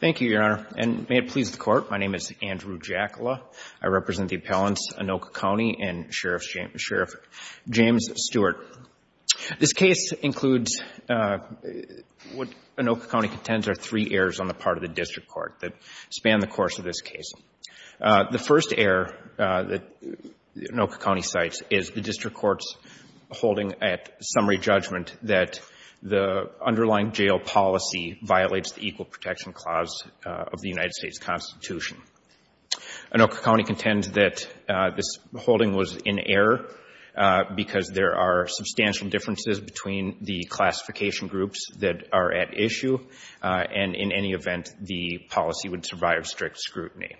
Thank you, Your Honor, and may it please the Court, my name is Andrew Jackala. I represent the appellants Anoka County and Sheriff James Stewart. This case includes what Anoka County contends are three errors on the part of the district court that span the course of this case. The first error that Anoka County cites is the district court's holding at summary judgment that the underlying jail policy violates the Equal Protection Clause of the United States Constitution. Anoka County contends that this holding was in error because there are substantial differences between the classification groups that are at issue and in any event the policy would survive strict scrutiny.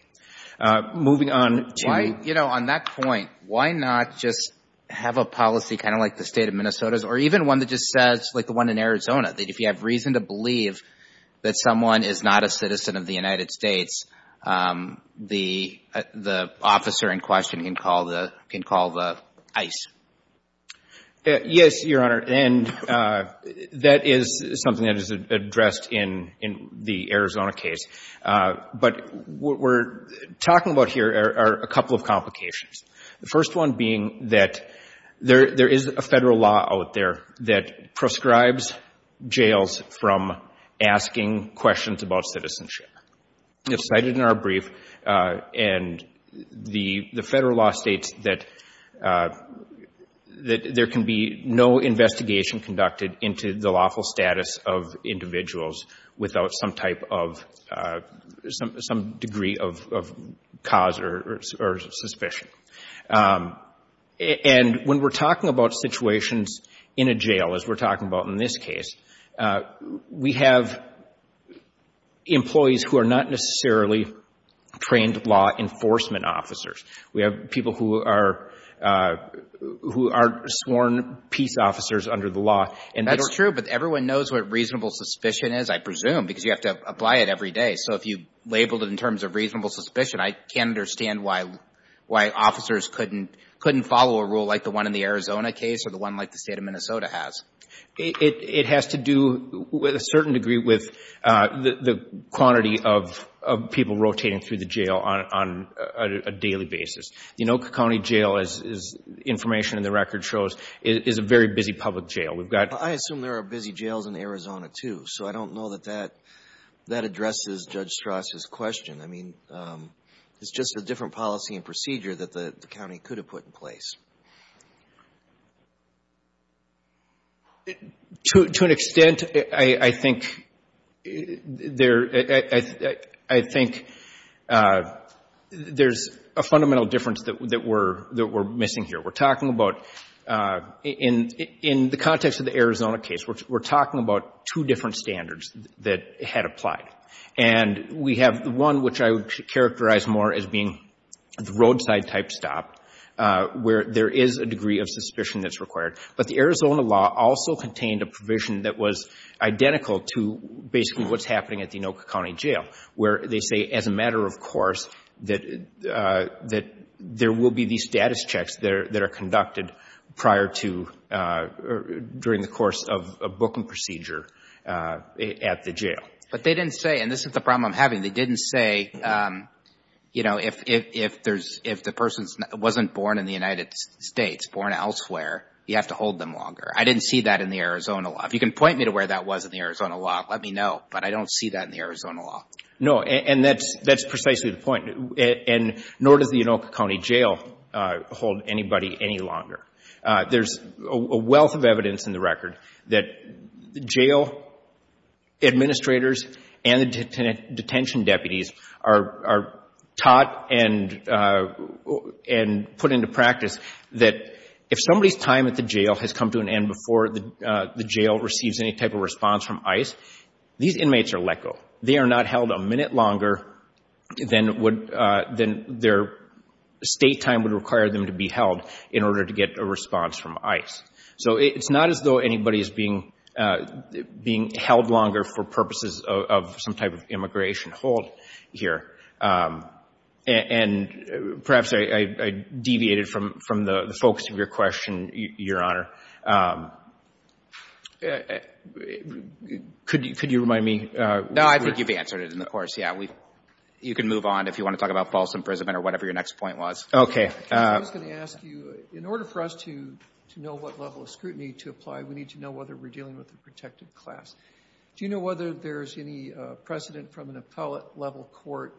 Moving on to... Why, you know, on that point, why not just have a policy kind of like the State of Minnesota's or even one that just says, like the one in Arizona, that if you have reason to believe that someone is not a citizen of the United States, the officer in question can call the ICE? Yes, Your Honor, and that is something that is addressed in the Arizona case. But what we're talking about here are a couple of complications. The first one being that there is a federal law out there that proscribes jails from asking questions about citizenship. It's cited in our brief, and the federal law states that there can be no investigation conducted into the lawful status of individuals without some type of, some degree of cause or suspicion. And when we're talking about situations in a jail, as we're talking about in this case, we have employees who are not necessarily trained law enforcement officers. We have people who are sworn peace officers under the law. That's true, but everyone knows what reasonable suspicion is, I presume, because you have to apply it every day. So if you labeled it in terms of reasonable suspicion, I can't understand why officers couldn't follow a rule like the one in the Arizona case or the one like the State of Minnesota has. It has to do, to a certain degree, with the quantity of people rotating through the jail on a daily basis. The Noca County Jail, as information in the record shows, is a very busy public jail. I assume there are busy jails in Arizona, too, so I don't know that that addresses Judge Strass' question. I mean, it's just a different policy and procedure that the county could have put in place. To an extent, I think there's a fundamental difference that we're missing here. We're talking about, in the context of the Arizona case, we're talking about two different standards that had applied. And we have the one which I would characterize more as being the roadside-type stop, where there is a degree of suspicion that's required. But the Arizona law also contained a provision that was identical to basically what's happening at the Noca County Jail, where they say, as a matter of course, that there will be these status checks that are conducted prior to or during the course of a booking procedure at the jail. But they didn't say, and this is the problem I'm having, they didn't say, you know, if the person wasn't born in the United States, born elsewhere, you have to hold them longer. I didn't see that in the Arizona law. If you can point me to where that was in the Arizona law, let me know, but I don't see that in the Arizona law. No, and that's precisely the point. And nor does the Noca County Jail hold anybody any longer. There's a wealth of evidence in the record that jail administrators and the detention deputies are taught and put into practice that if somebody's time at the jail has come to an end before the jail receives any type of response from ICE, these inmates are let go. They are not held a minute longer than their state time would require them to be held in order to get a response from ICE. So it's not as though anybody is being held longer for purposes of some type of immigration hold here. And perhaps I deviated from the focus of your question, Your Honor. Could you remind me? No, I think you've answered it in the course, yeah. You can move on if you want to talk about false imprisonment or whatever your next point was. Okay. I was going to ask you, in order for us to know what level of scrutiny to apply, we need to know whether we're dealing with a protected class. Do you know whether there's any precedent from an appellate-level court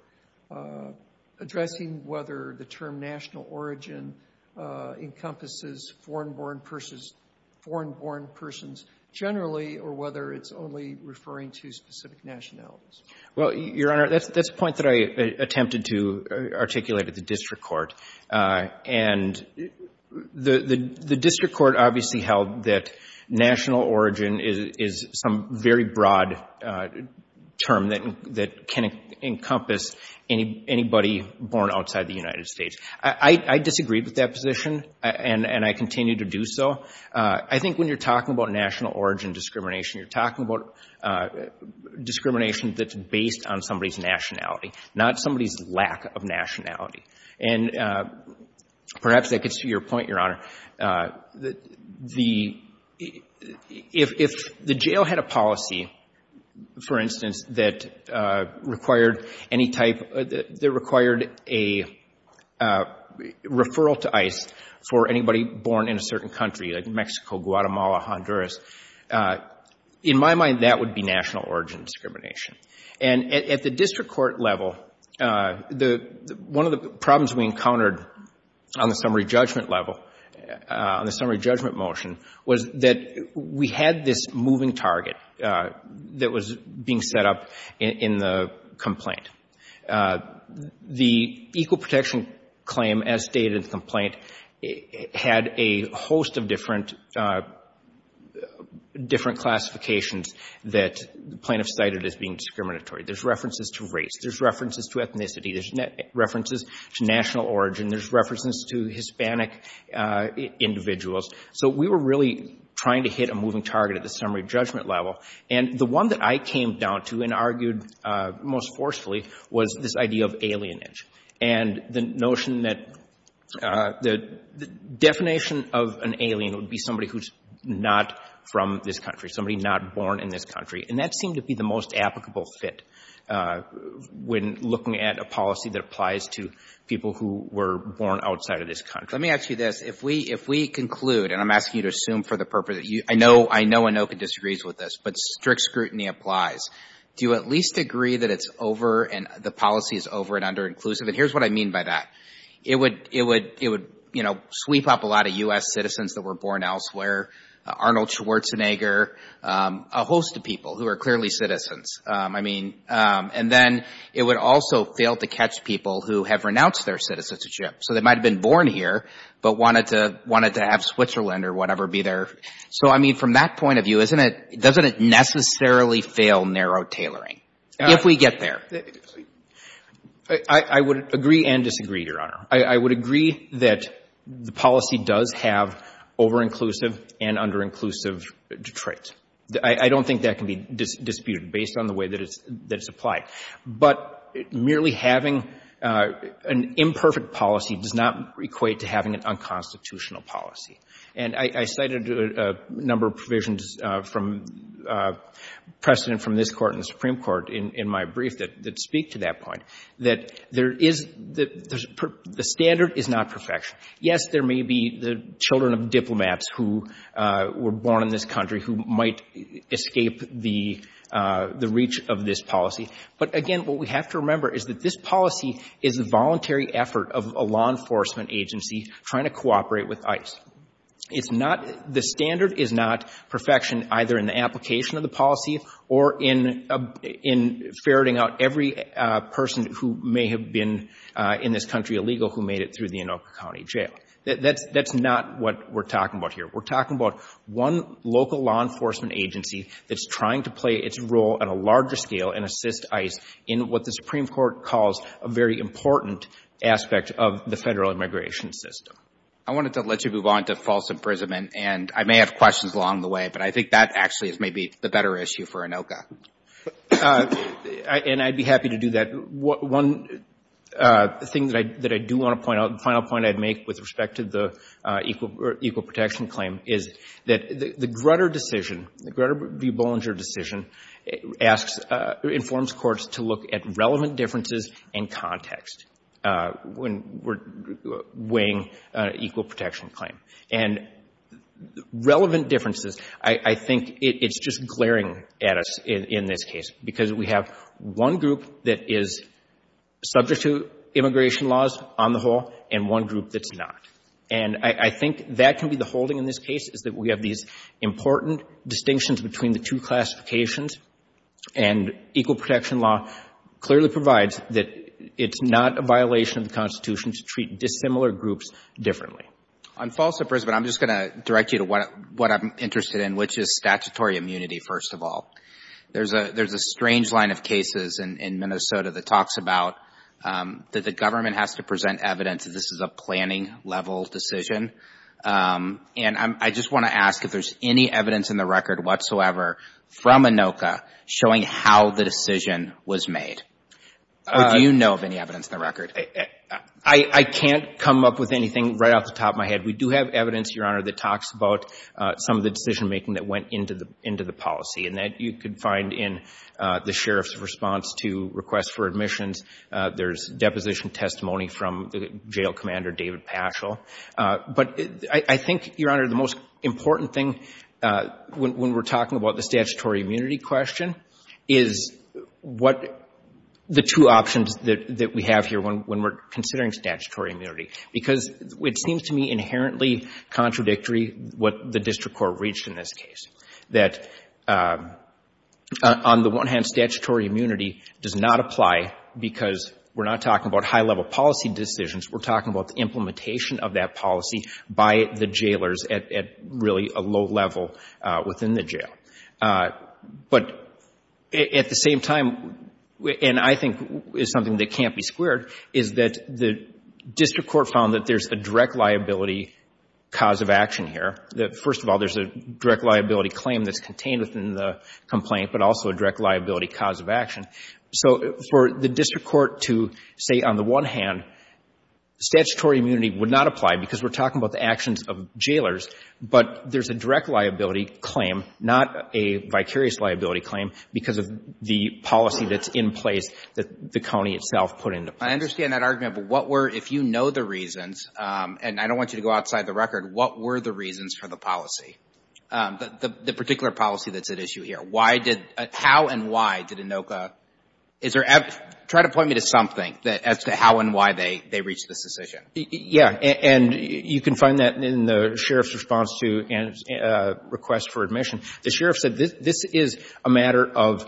addressing whether the term national origin encompasses foreign-born persons generally or whether it's only referring to specific nationalities? Well, Your Honor, that's a point that I attempted to articulate at the district court. And the district court obviously held that national origin is some very broad term that can encompass anybody born outside the United States. I disagree with that position, and I continue to do so. I think when you're talking about national origin discrimination, you're talking about discrimination that's based on somebody's nationality, not somebody's lack of nationality. And perhaps that gets to your point, Your Honor. The — if the jail had a policy, for instance, that required any type — that required a referral to ICE for anybody born in a certain country, like Mexico, Guatemala, Honduras, in my mind, that would be national origin discrimination. And at the district court level, the — one of the problems we encountered on the summary judgment level, on the summary judgment motion, was that we had this moving target that was being set up in the complaint. The equal protection claim as stated in the complaint had a host of different — different classifications that plaintiffs cited as being discriminatory. There's references to race. There's references to ethnicity. There's references to national origin. There's references to Hispanic individuals. So we were really trying to hit a moving target at the summary judgment level. And the one that I came down to and argued most forcefully was this idea of alienage. And the notion that — the definition of an alien would be somebody who's not from this country, somebody not born in this country. And that seemed to be the most applicable fit when looking at a policy that applies to people who were born outside of this country. Let me ask you this. If we — if we conclude, and I'm asking you to assume for the purpose that you — I know — I know Anoka disagrees with this, but strict scrutiny applies. Do you at least agree that it's over and the policy is over and under-inclusive? And here's what I mean by that. It would — it would — it would, you know, sweep up a lot of U.S. citizens that were born elsewhere, Arnold Schwarzenegger, a host of people who are clearly citizens. I mean — and then it would also fail to catch people who have renounced their citizenship. So they might have been born here but wanted to — wanted to have Switzerland or whatever be their — so, I mean, from that point of view, isn't it — doesn't it necessarily fail narrow tailoring if we get there? I would agree and disagree, Your Honor. I would agree that the policy does have over-inclusive and under-inclusive traits. I don't think that can be disputed based on the way that it's applied. But merely having an imperfect policy does not equate to having an unconstitutional policy. And I cited a number of provisions from precedent from this Court and the Supreme Court in my brief that speak to that point, that there is — the standard is not perfection. Yes, there may be the children of diplomats who were born in this country who might escape the — the reach of this policy. But, again, what we have to remember is that this policy is a voluntary effort of a law enforcement agency trying to cooperate with ICE. It's not — the standard is not perfection either in the application of the policy or in — in ferreting out every person's who may have been in this country illegal who made it through the Anoka County Jail. That's — that's not what we're talking about here. We're talking about one local law enforcement agency that's trying to play its role at a larger scale and assist ICE in what the Supreme Court calls a very important aspect of the federal immigration system. I wanted to let you move on to false imprisonment. And I may have questions along the way, but I think that actually is maybe the better issue for Anoka. And I'd be happy to do that. One thing that I — that I do want to point out, the final point I'd make with respect to the equal — or equal protection claim is that the Grutter decision, the Grutter v. Bollinger decision, asks — informs courts to look at relevant differences in context when we're weighing equal protection claim. And relevant differences, I — I think it's just glaring at us in — in this case because we have one group that is subject to immigration laws on the whole and one group that's not. And I — I think that can be the holding in this case, is that we have these important distinctions between the two classifications. And equal protection law clearly provides that it's not a violation of the Constitution to treat dissimilar groups differently. On false imprisonment, I'm just going to direct you to what I'm interested in, which is statutory immunity, first of all. There's a — there's a strange line of cases in Minnesota that talks about that the government has to present evidence that this is a planning-level decision. And I just want to ask if there's any evidence in the record whatsoever from Anoka showing how the decision was made. I — I can't come up with anything right off the top of my head. We do have evidence, Your Honor, that talks about some of the decision-making that went into the — into the policy. And that you could find in the sheriff's response to requests for admissions. There's deposition testimony from the jail commander, David Paschal. But I think, Your Honor, the most important thing when — when we're talking about the statutory immunity question is what the two options that — that we have here when — when we're considering statutory immunity. Because it seems to me inherently contradictory what the district court reached in this case, that on the one hand, statutory immunity does not apply because we're not talking about high-level policy decisions. We're talking about the implementation of that policy by the jailers at — at really a low level within the jail. But at the same time, and I think is something that can't be squared, is that the district court found that there's a direct liability cause of action here. That, first of all, there's a direct liability claim that's contained within the complaint, but also a direct liability cause of action. So for the district court to say, on the one hand, statutory immunity would not apply because we're talking about the actions of jailers. But there's a direct liability claim, not a vicarious liability claim, because of the policy that's in place that the county itself put into place. I understand that argument. But what were — if you know the reasons, and I don't want you to go outside the record, what were the reasons for the policy, the particular policy that's at issue here? Why did — how and why did ANOCA — is there — try to point me to something as to how and why they — they reached this decision. Yeah. And you can find that in the sheriff's response to Ann's request for admission. The sheriff said this is a matter of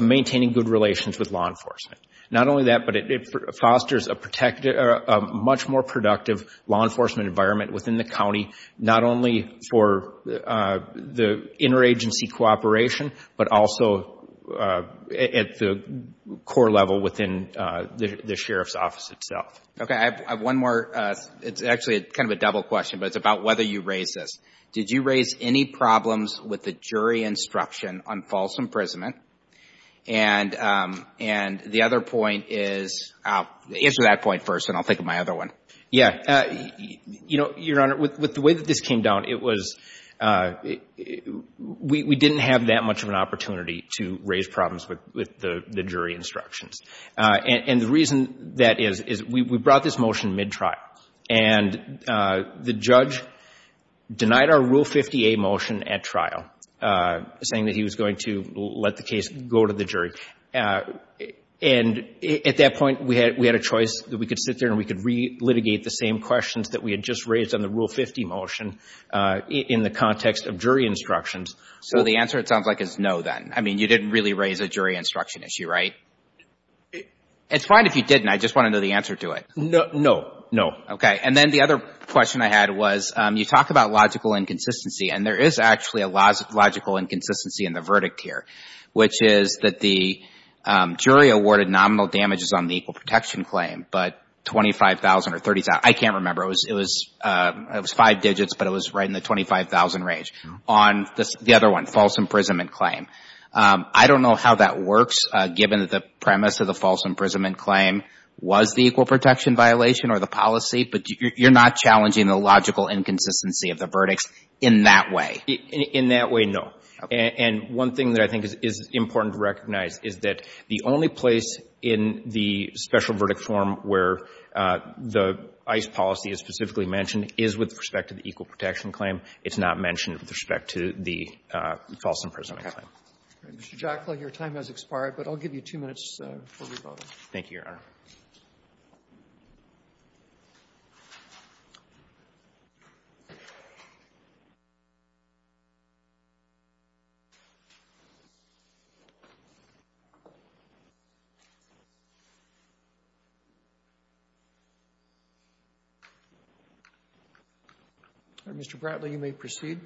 maintaining good relations with law enforcement. Not only that, but it fosters a much more productive law enforcement environment within the county, not only for the interagency cooperation, but also at the core level within the sheriff's office itself. Okay. I have one more. It's actually kind of a double question, but it's about whether you raised this. Did you raise any problems with the jury instruction on false imprisonment? And the other point is — answer that point first, and I'll think of my other one. Yeah. You know, Your Honor, with the way that this came down, it was — we didn't have that much of an opportunity to raise problems with the jury instructions. And the reason that is, is we brought this motion mid-trial. And the judge denied our Rule 50A motion at trial, saying that he was going to let the case go to the jury. And at that point, we had a choice that we could sit there and we could re-litigate the same questions that we had just raised on the Rule 50 motion in the context of jury instructions. So the answer, it sounds like, is no, then? I mean, you didn't really raise a jury instruction issue, right? It's fine if you didn't. I just want to know the answer to it. No. No. Okay. And then the other question I had was, you talk about logical inconsistency, and there is actually a logical inconsistency in the verdict here, which is that the jury awarded nominal damages on the equal protection claim, but $25,000 or $30,000 — I can't remember. It was five digits, but it was right in the $25,000 range. On the other one, false imprisonment claim, I don't know how that works, given that the premise of the false imprisonment claim was the equal protection violation or the policy, but you're not challenging the logical inconsistency of the verdicts in that way? In that way, no. Okay. And one thing that I think is important to recognize is that the only place in the special verdict form where the ICE policy is specifically mentioned is with respect to the equal protection claim. It's not mentioned with respect to the false imprisonment claim. Okay. Mr. Jockley, your time has expired, but I'll give you two minutes before we vote. Thank you, Your Honor. Mr. Bratley, you may proceed.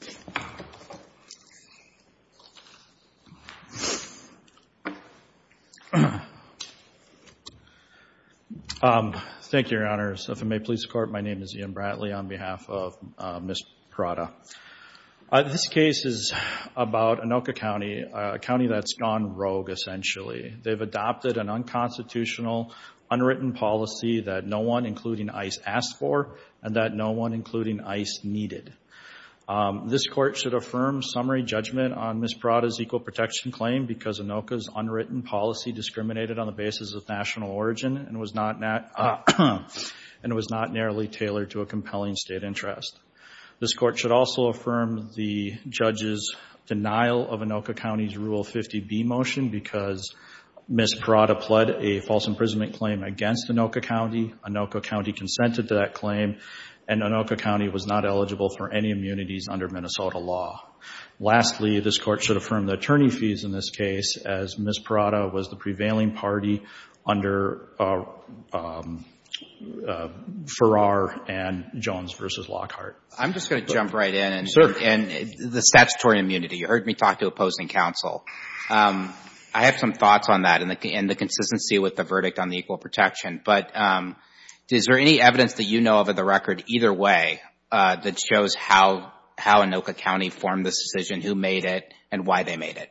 Thank you. Thank you, Your Honors. If it may please the Court, my name is Ian Bratley on behalf of Ms. Prada. This case is about Anoka County, a county that's gone rogue, essentially. They've adopted an unconstitutional, unwritten policy that no one, including ICE, asked for and that no one, including ICE, needed. This Court should affirm summary judgment on Ms. Prada's equal protection claim because Anoka's unwritten policy discriminated on the basis of national origin and was not narrowly tailored to a compelling state interest. This Court should also affirm the judge's denial of Anoka County's Rule 50B motion because Ms. Prada pled a false imprisonment claim against Anoka County. Anoka County consented to that claim, and Anoka County was not eligible for any immunities under Minnesota law. Lastly, this Court should affirm the attorney fees in this case as Ms. Prada was the prevailing party under Farrar and Jones v. Lockhart. I'm just going to jump right in. Sure. The statutory immunity. You heard me talk to opposing counsel. I have some thoughts on that and the consistency with the verdict on the equal protection, but is there any evidence that you know of at the record either way that shows how Anoka County formed this decision, who made it, and why they made it?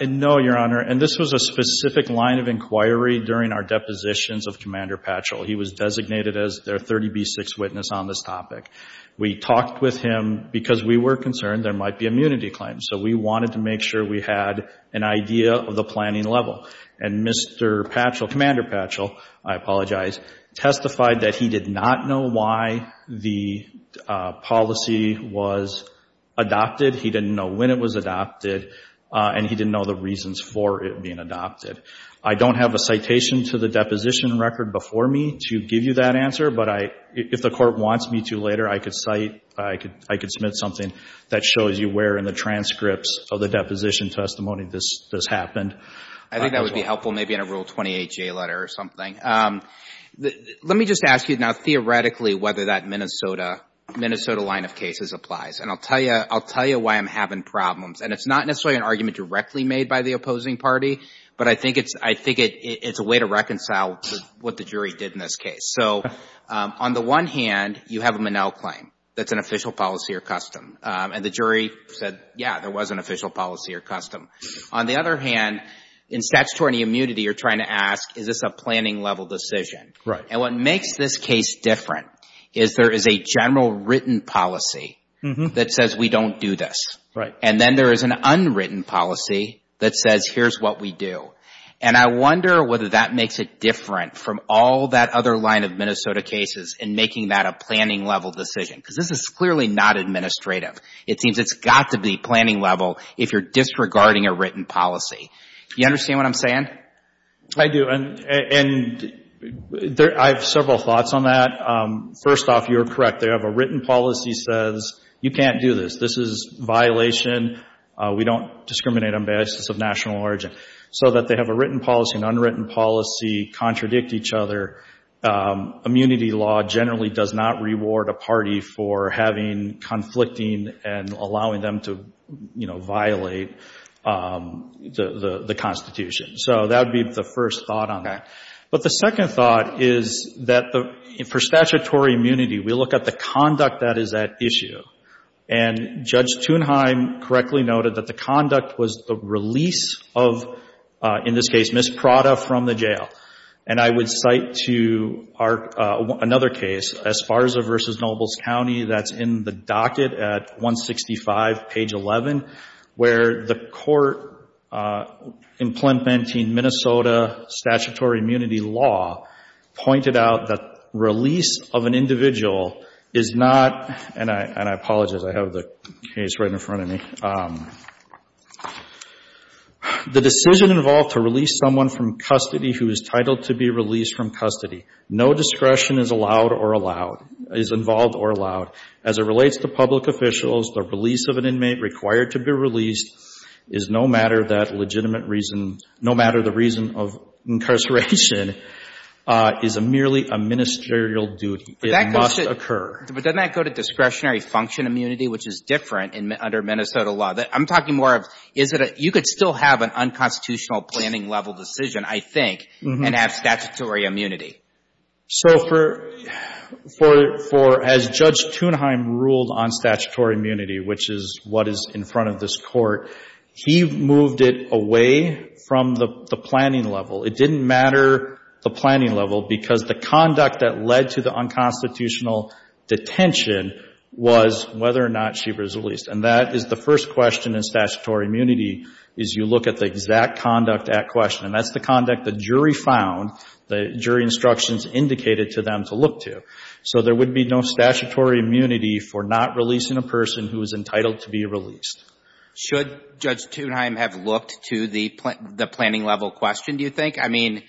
No, Your Honor, and this was a specific line of inquiry during our depositions of Commander Patchell. He was designated as their 30B6 witness on this topic. We talked with him because we were concerned there might be immunity claims, so we wanted to make sure we had an idea of the planning level, and Mr. Patchell, Commander Patchell, I apologize, testified that he did not know why the policy was adopted. He didn't know when it was adopted, and he didn't know the reasons for it being adopted. I don't have a citation to the deposition record before me to give you that answer, but if the court wants me to later, I could cite, I could submit something that shows you where in the transcripts of the deposition testimony this happened. I think that would be helpful maybe in a Rule 28 J letter or something. Let me just ask you now theoretically whether that Minnesota line of cases applies, and I'll tell you why I'm having problems, and it's not necessarily an argument directly made by the opposing party, but I think it's a way to reconcile what the jury did in this case. So on the one hand, you have a Monell claim that's an official policy or custom, and the jury said, yeah, there was an official policy or custom. On the other hand, in statutory immunity, you're trying to ask, is this a planning level decision, and what makes this case different is there is a general written policy that says we don't do this, and then there is an unwritten policy that says here's what we do, and I wonder whether that makes it different from all that other line of Minnesota cases in making that a planning level decision, because this is clearly not administrative. It seems it's got to be planning level if you're disregarding a written policy. Do you understand what I'm saying? I do, and I have several thoughts on that. First off, you're correct. They have a written policy that says you can't do this. This is a violation. We don't discriminate on the basis of national origin. So that they have a written policy and an unwritten policy, contradict each other. Immunity law generally does not reward a party for having conflicting and allowing them to, you know, violate the Constitution. So that would be the first thought on that. But the second thought is that for statutory immunity, we look at the conduct that is at issue, and Judge Thunheim correctly noted that the conduct was the release of, in this case, Ms. Prada from the jail. And I would cite to another case, Esparza v. Nobles County, that's in the docket at 165, page 11, where the court in Planned Parenthood, Minnesota, statutory immunity law, pointed out that release of an individual is not, and I apologize. I have the case right in front of me. The decision involved to release someone from custody who is titled to be released from custody. No discretion is allowed or allowed, is involved or allowed. As it relates to public officials, the release of an inmate required to be released is no matter that legitimate reason, no matter the reason of incarceration, is merely a ministerial duty. It must occur. But doesn't that go to discretionary function immunity, which is different under Minnesota law? I'm talking more of, is it a, you could still have an unconstitutional planning level decision, I think, and have statutory immunity. So for, as Judge Thunheim ruled on statutory immunity, which is what is in front of this court, he moved it away from the planning level. It didn't matter the planning level because the conduct that led to the unconstitutional detention was whether or not she was released. And that is the first question in statutory immunity, is you look at the exact conduct at question. And that's the conduct the jury found, the jury instructions indicated to them to look to. So there would be no statutory immunity for not releasing a person who is entitled to be released. Should Judge Thunheim have looked to the planning level question, do you think? I mean,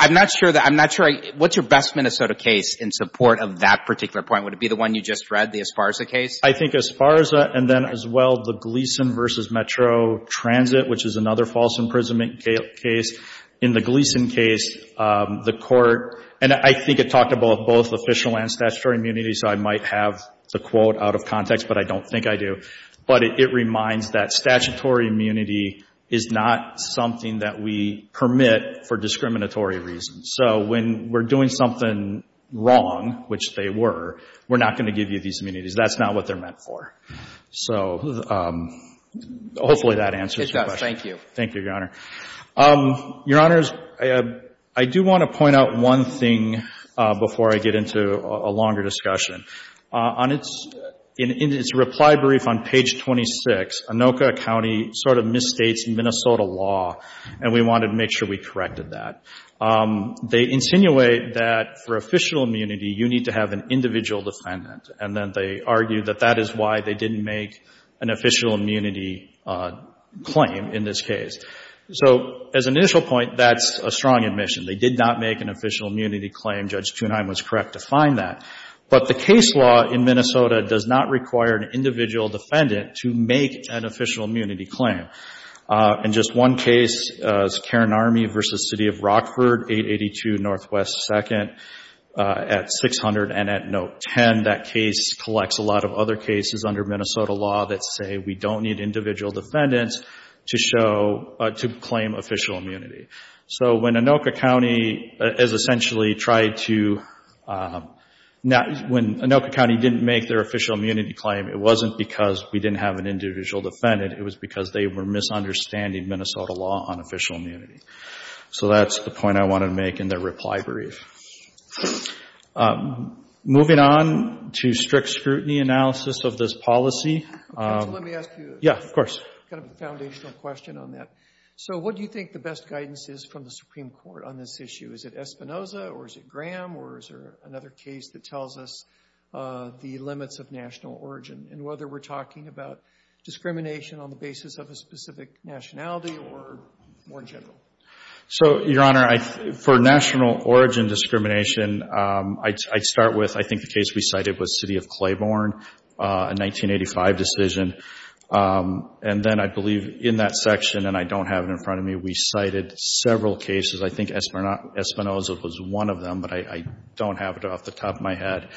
I'm not sure that, I'm not sure, what's your best Minnesota case in support of that particular point? Would it be the one you just read, the Esparza case? I think Esparza and then as well the Gleason v. Metro Transit, which is another false imprisonment case. In the Gleason case, the court, and I think it talked about both official and statutory immunity, so I might have the quote out of context, but I don't think I do. But it reminds that statutory immunity is not something that we permit for discriminatory reasons. So when we're doing something wrong, which they were, we're not going to give you these immunities. That's not what they're meant for. So hopefully that answers your question. It does. Thank you. Thank you, Your Honor. Your Honors, I do want to point out one thing before I get into a longer discussion. In its reply brief on page 26, Anoka County sort of misstates Minnesota law, and we wanted to make sure we corrected that. They insinuate that for official immunity, you need to have an individual defendant, and then they argue that that is why they didn't make an official immunity claim in this case. So as an initial point, that's a strong admission. They did not make an official immunity claim. Judge Thunheim was correct to find that. But the case law in Minnesota does not require an individual defendant to make an official immunity claim. And just one case is Cairn Army v. City of Rockford, 882 Northwest 2nd, at 600 and at note 10. That case collects a lot of other cases under Minnesota law that say we don't need individual defendants to show, to claim official immunity. So when Anoka County has essentially tried to, when Anoka County didn't make their official immunity claim, it wasn't because we didn't have an individual defendant, it was because they were misunderstanding Minnesota law on official immunity. So that's the point I wanted to make in their reply brief. Moving on to strict scrutiny analysis of this policy. Let me ask you a kind of foundational question on that. So what do you think the best guidance is from the Supreme Court on this issue? Is it Espinoza or is it Graham or is there another case that tells us the limits of national origin? And whether we're talking about discrimination on the basis of a specific nationality or more general? So, Your Honor, for national origin discrimination, I'd start with I think the case we cited was City of Claiborne, a 1985 decision. And then I believe in that section, and I don't have it in front of me, we cited several cases. I think Espinoza was one of them, but I don't have it off the top of my head.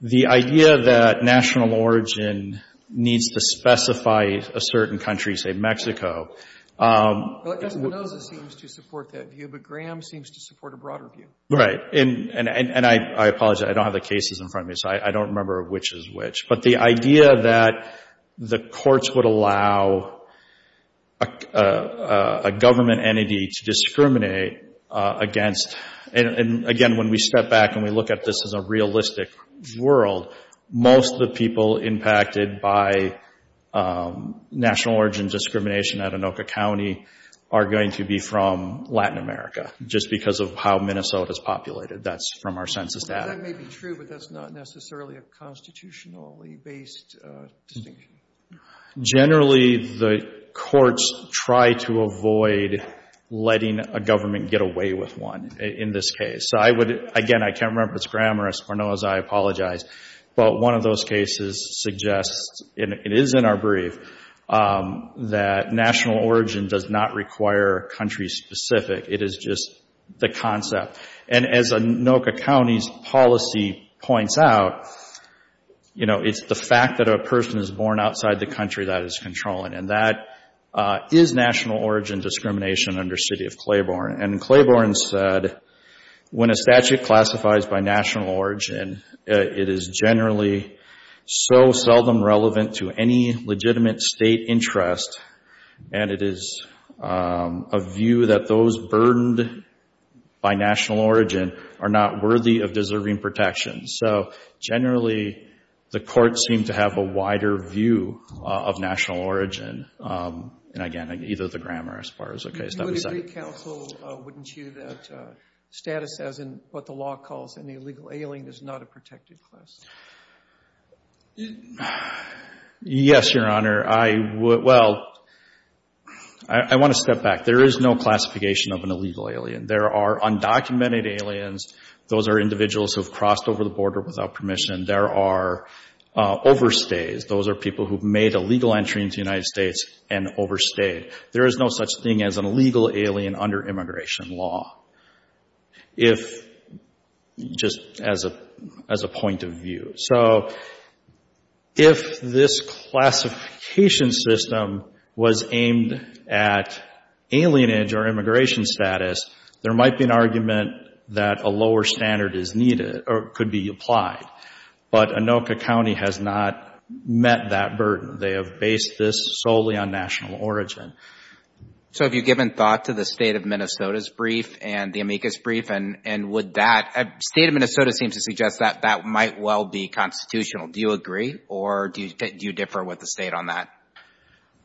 The idea that national origin needs to specify a certain country, say Mexico. Espinoza seems to support that view, but Graham seems to support a broader view. Right. And I apologize, I don't have the cases in front of me, so I don't remember which is which. But the idea that the courts would allow a government entity to discriminate against, and again, when we step back and we look at this as a realistic world, most of the people impacted by national origin discrimination at Anoka County are going to be from Latin America, just because of how Minnesota is populated. That's from our census data. That may be true, but that's not necessarily a constitutionally-based distinction. Generally, the courts try to avoid letting a government get away with one in this case. So I would, again, I can't remember if it's Graham or Espinoza, I apologize. But one of those cases suggests, and it is in our brief, that national origin does not require country-specific. It is just the concept. And as Anoka County's policy points out, you know, it's the fact that a person is born outside the country that is controlling, and that is national origin discrimination under city of Claiborne. And Claiborne said, when a statute classifies by national origin, it is generally so seldom relevant to any legitimate state interest, and it is a view that those burdened by national origin are not worthy of deserving protection. So generally, the courts seem to have a wider view of national origin, and again, either the grammar as far as the case that we cite. Would you agree, counsel, wouldn't you, that status as in what the law calls an illegal alien is not a protected class? Yes, Your Honor. I would, well, I want to step back. There is no classification of an illegal alien. There are undocumented aliens. Those are individuals who have crossed over the border without permission. There are overstays. Those are people who have made a legal entry into the United States and overstayed. There is no such thing as an illegal alien under immigration law. If just as a point of view. So if this classification system was aimed at alienage or immigration status, there might be an argument that a lower standard is needed or could be applied. But Anoka County has not met that burden. They have based this solely on national origin. So have you given thought to the State of Minnesota's brief and the amicus brief, and would that, State of Minnesota seems to suggest that that might well be constitutional. Do you agree, or do you differ with the State on that?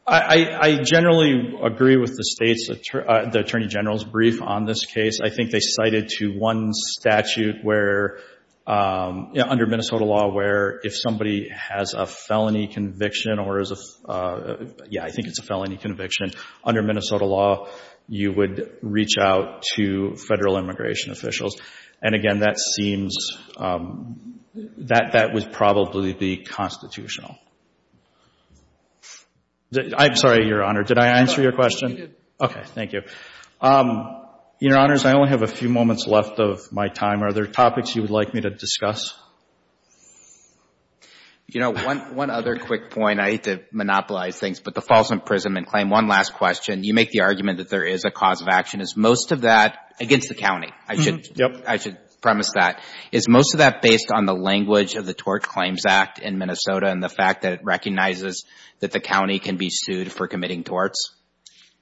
I generally agree with the State's, the Attorney General's brief on this case. I think they cited to one statute where, under Minnesota law, where if somebody has a felony conviction or is a, yeah, I think it's a felony conviction, under Minnesota law you would reach out to federal immigration officials. And, again, that seems, that would probably be constitutional. I'm sorry, Your Honor, did I answer your question? No, you did. Okay, thank you. Your Honors, I only have a few moments left of my time. Are there topics you would like me to discuss? You know, one other quick point, I hate to monopolize things, but the false imprisonment claim, one last question. You make the argument that there is a cause of action. Is most of that against the county? Yep. I should premise that. Is most of that based on the language of the Tort Claims Act in Minnesota and the fact that it recognizes that the county can be sued for committing torts?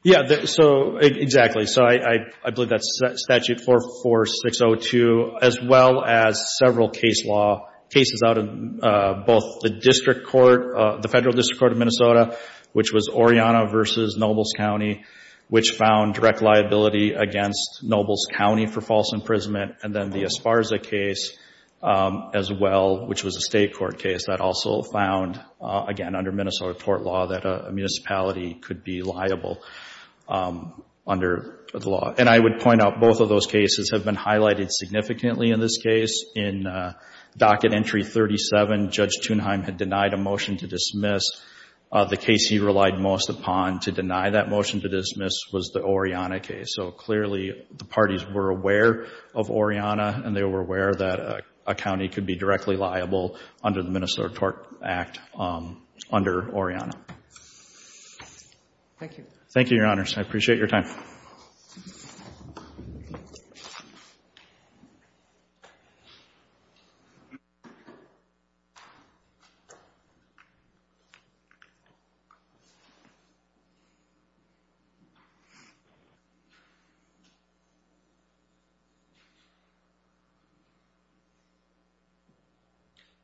Yeah, so, exactly. So I believe that's Statute 44602, as well as several cases out of both the District Court, the Federal District Court of Minnesota, which was Oriana v. Nobles County, which found direct liability against Nobles County for false imprisonment, and then the Esparza case as well, which was a state court case that also found, again, under Minnesota tort law, that a municipality could be liable under the law. And I would point out both of those cases have been highlighted significantly in this case. In Docket Entry 37, Judge Thunheim had denied a motion to dismiss. The case he relied most upon to deny that motion to dismiss was the Oriana case. So clearly the parties were aware of Oriana, and they were aware that a county could be directly liable under the Minnesota Tort Act under Oriana. Thank you. Thank you, Your Honors. I appreciate your time.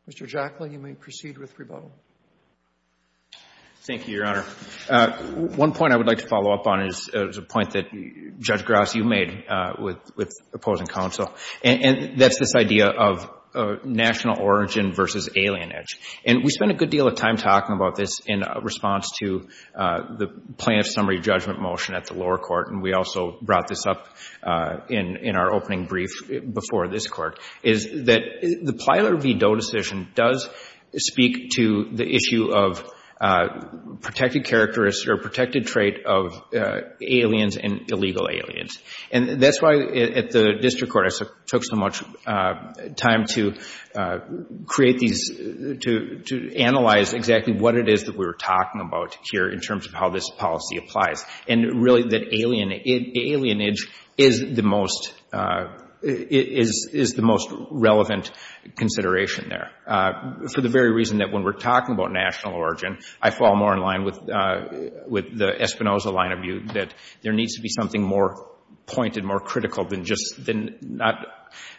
Mr. Jackley, you may proceed with rebuttal. Thank you, Your Honor. One point I would like to follow up on is a point that Judge Gross, you made with opposing counsel, and that's this idea of national origin versus alien edge. And we spent a good deal of time talking about this in response to the plaintiff's summary judgment motion at the lower court, and we also brought this up in our opening brief before the hearing. And what we found before this court is that the Plyler v. Doe decision does speak to the issue of protected characteristics or protected trait of aliens and illegal aliens. And that's why at the district court I took so much time to create these, to analyze exactly what it is that we were talking about here in terms of how this policy applies, and really that alien edge is the most relevant consideration there. For the very reason that when we're talking about national origin, I fall more in line with the Espinoza line of view that there needs to be something more pointed, more critical than just not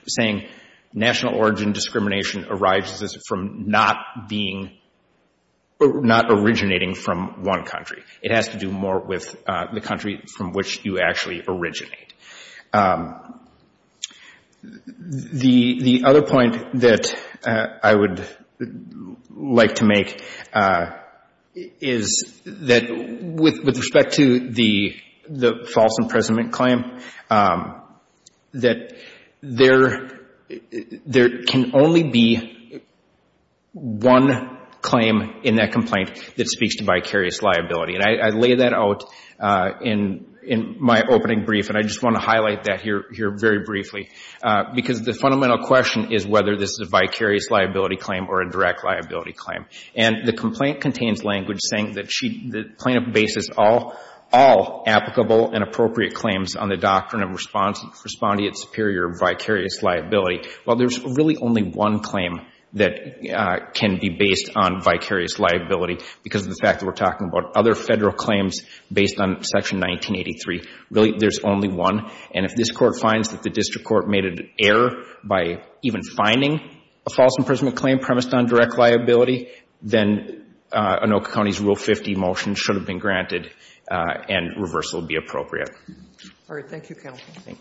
saying national origin discrimination arises from not being, not originating from one country. It has to do more with the country from which you actually originate. The other point that I would like to make is that with respect to the false imprisonment claim, that there can only be one claim in that complaint that speaks to vicarious liability. And I lay that out in my opening brief, and I just want to highlight that here very briefly, because the fundamental question is whether this is a vicarious liability claim or a direct liability claim. And the complaint contains language saying that plaintiff bases all applicable and appropriate claims on the doctrine of respondeat superior vicarious liability. Well, there's really only one claim that can be based on vicarious liability, because of the fact that we're talking about other Federal claims based on Section 1983. Really, there's only one. And if this Court finds that the district court made an error by even finding a false imprisonment claim premised on direct liability, then Anoka County's Rule 50 motion should have been granted and reversal would be appropriate. All right.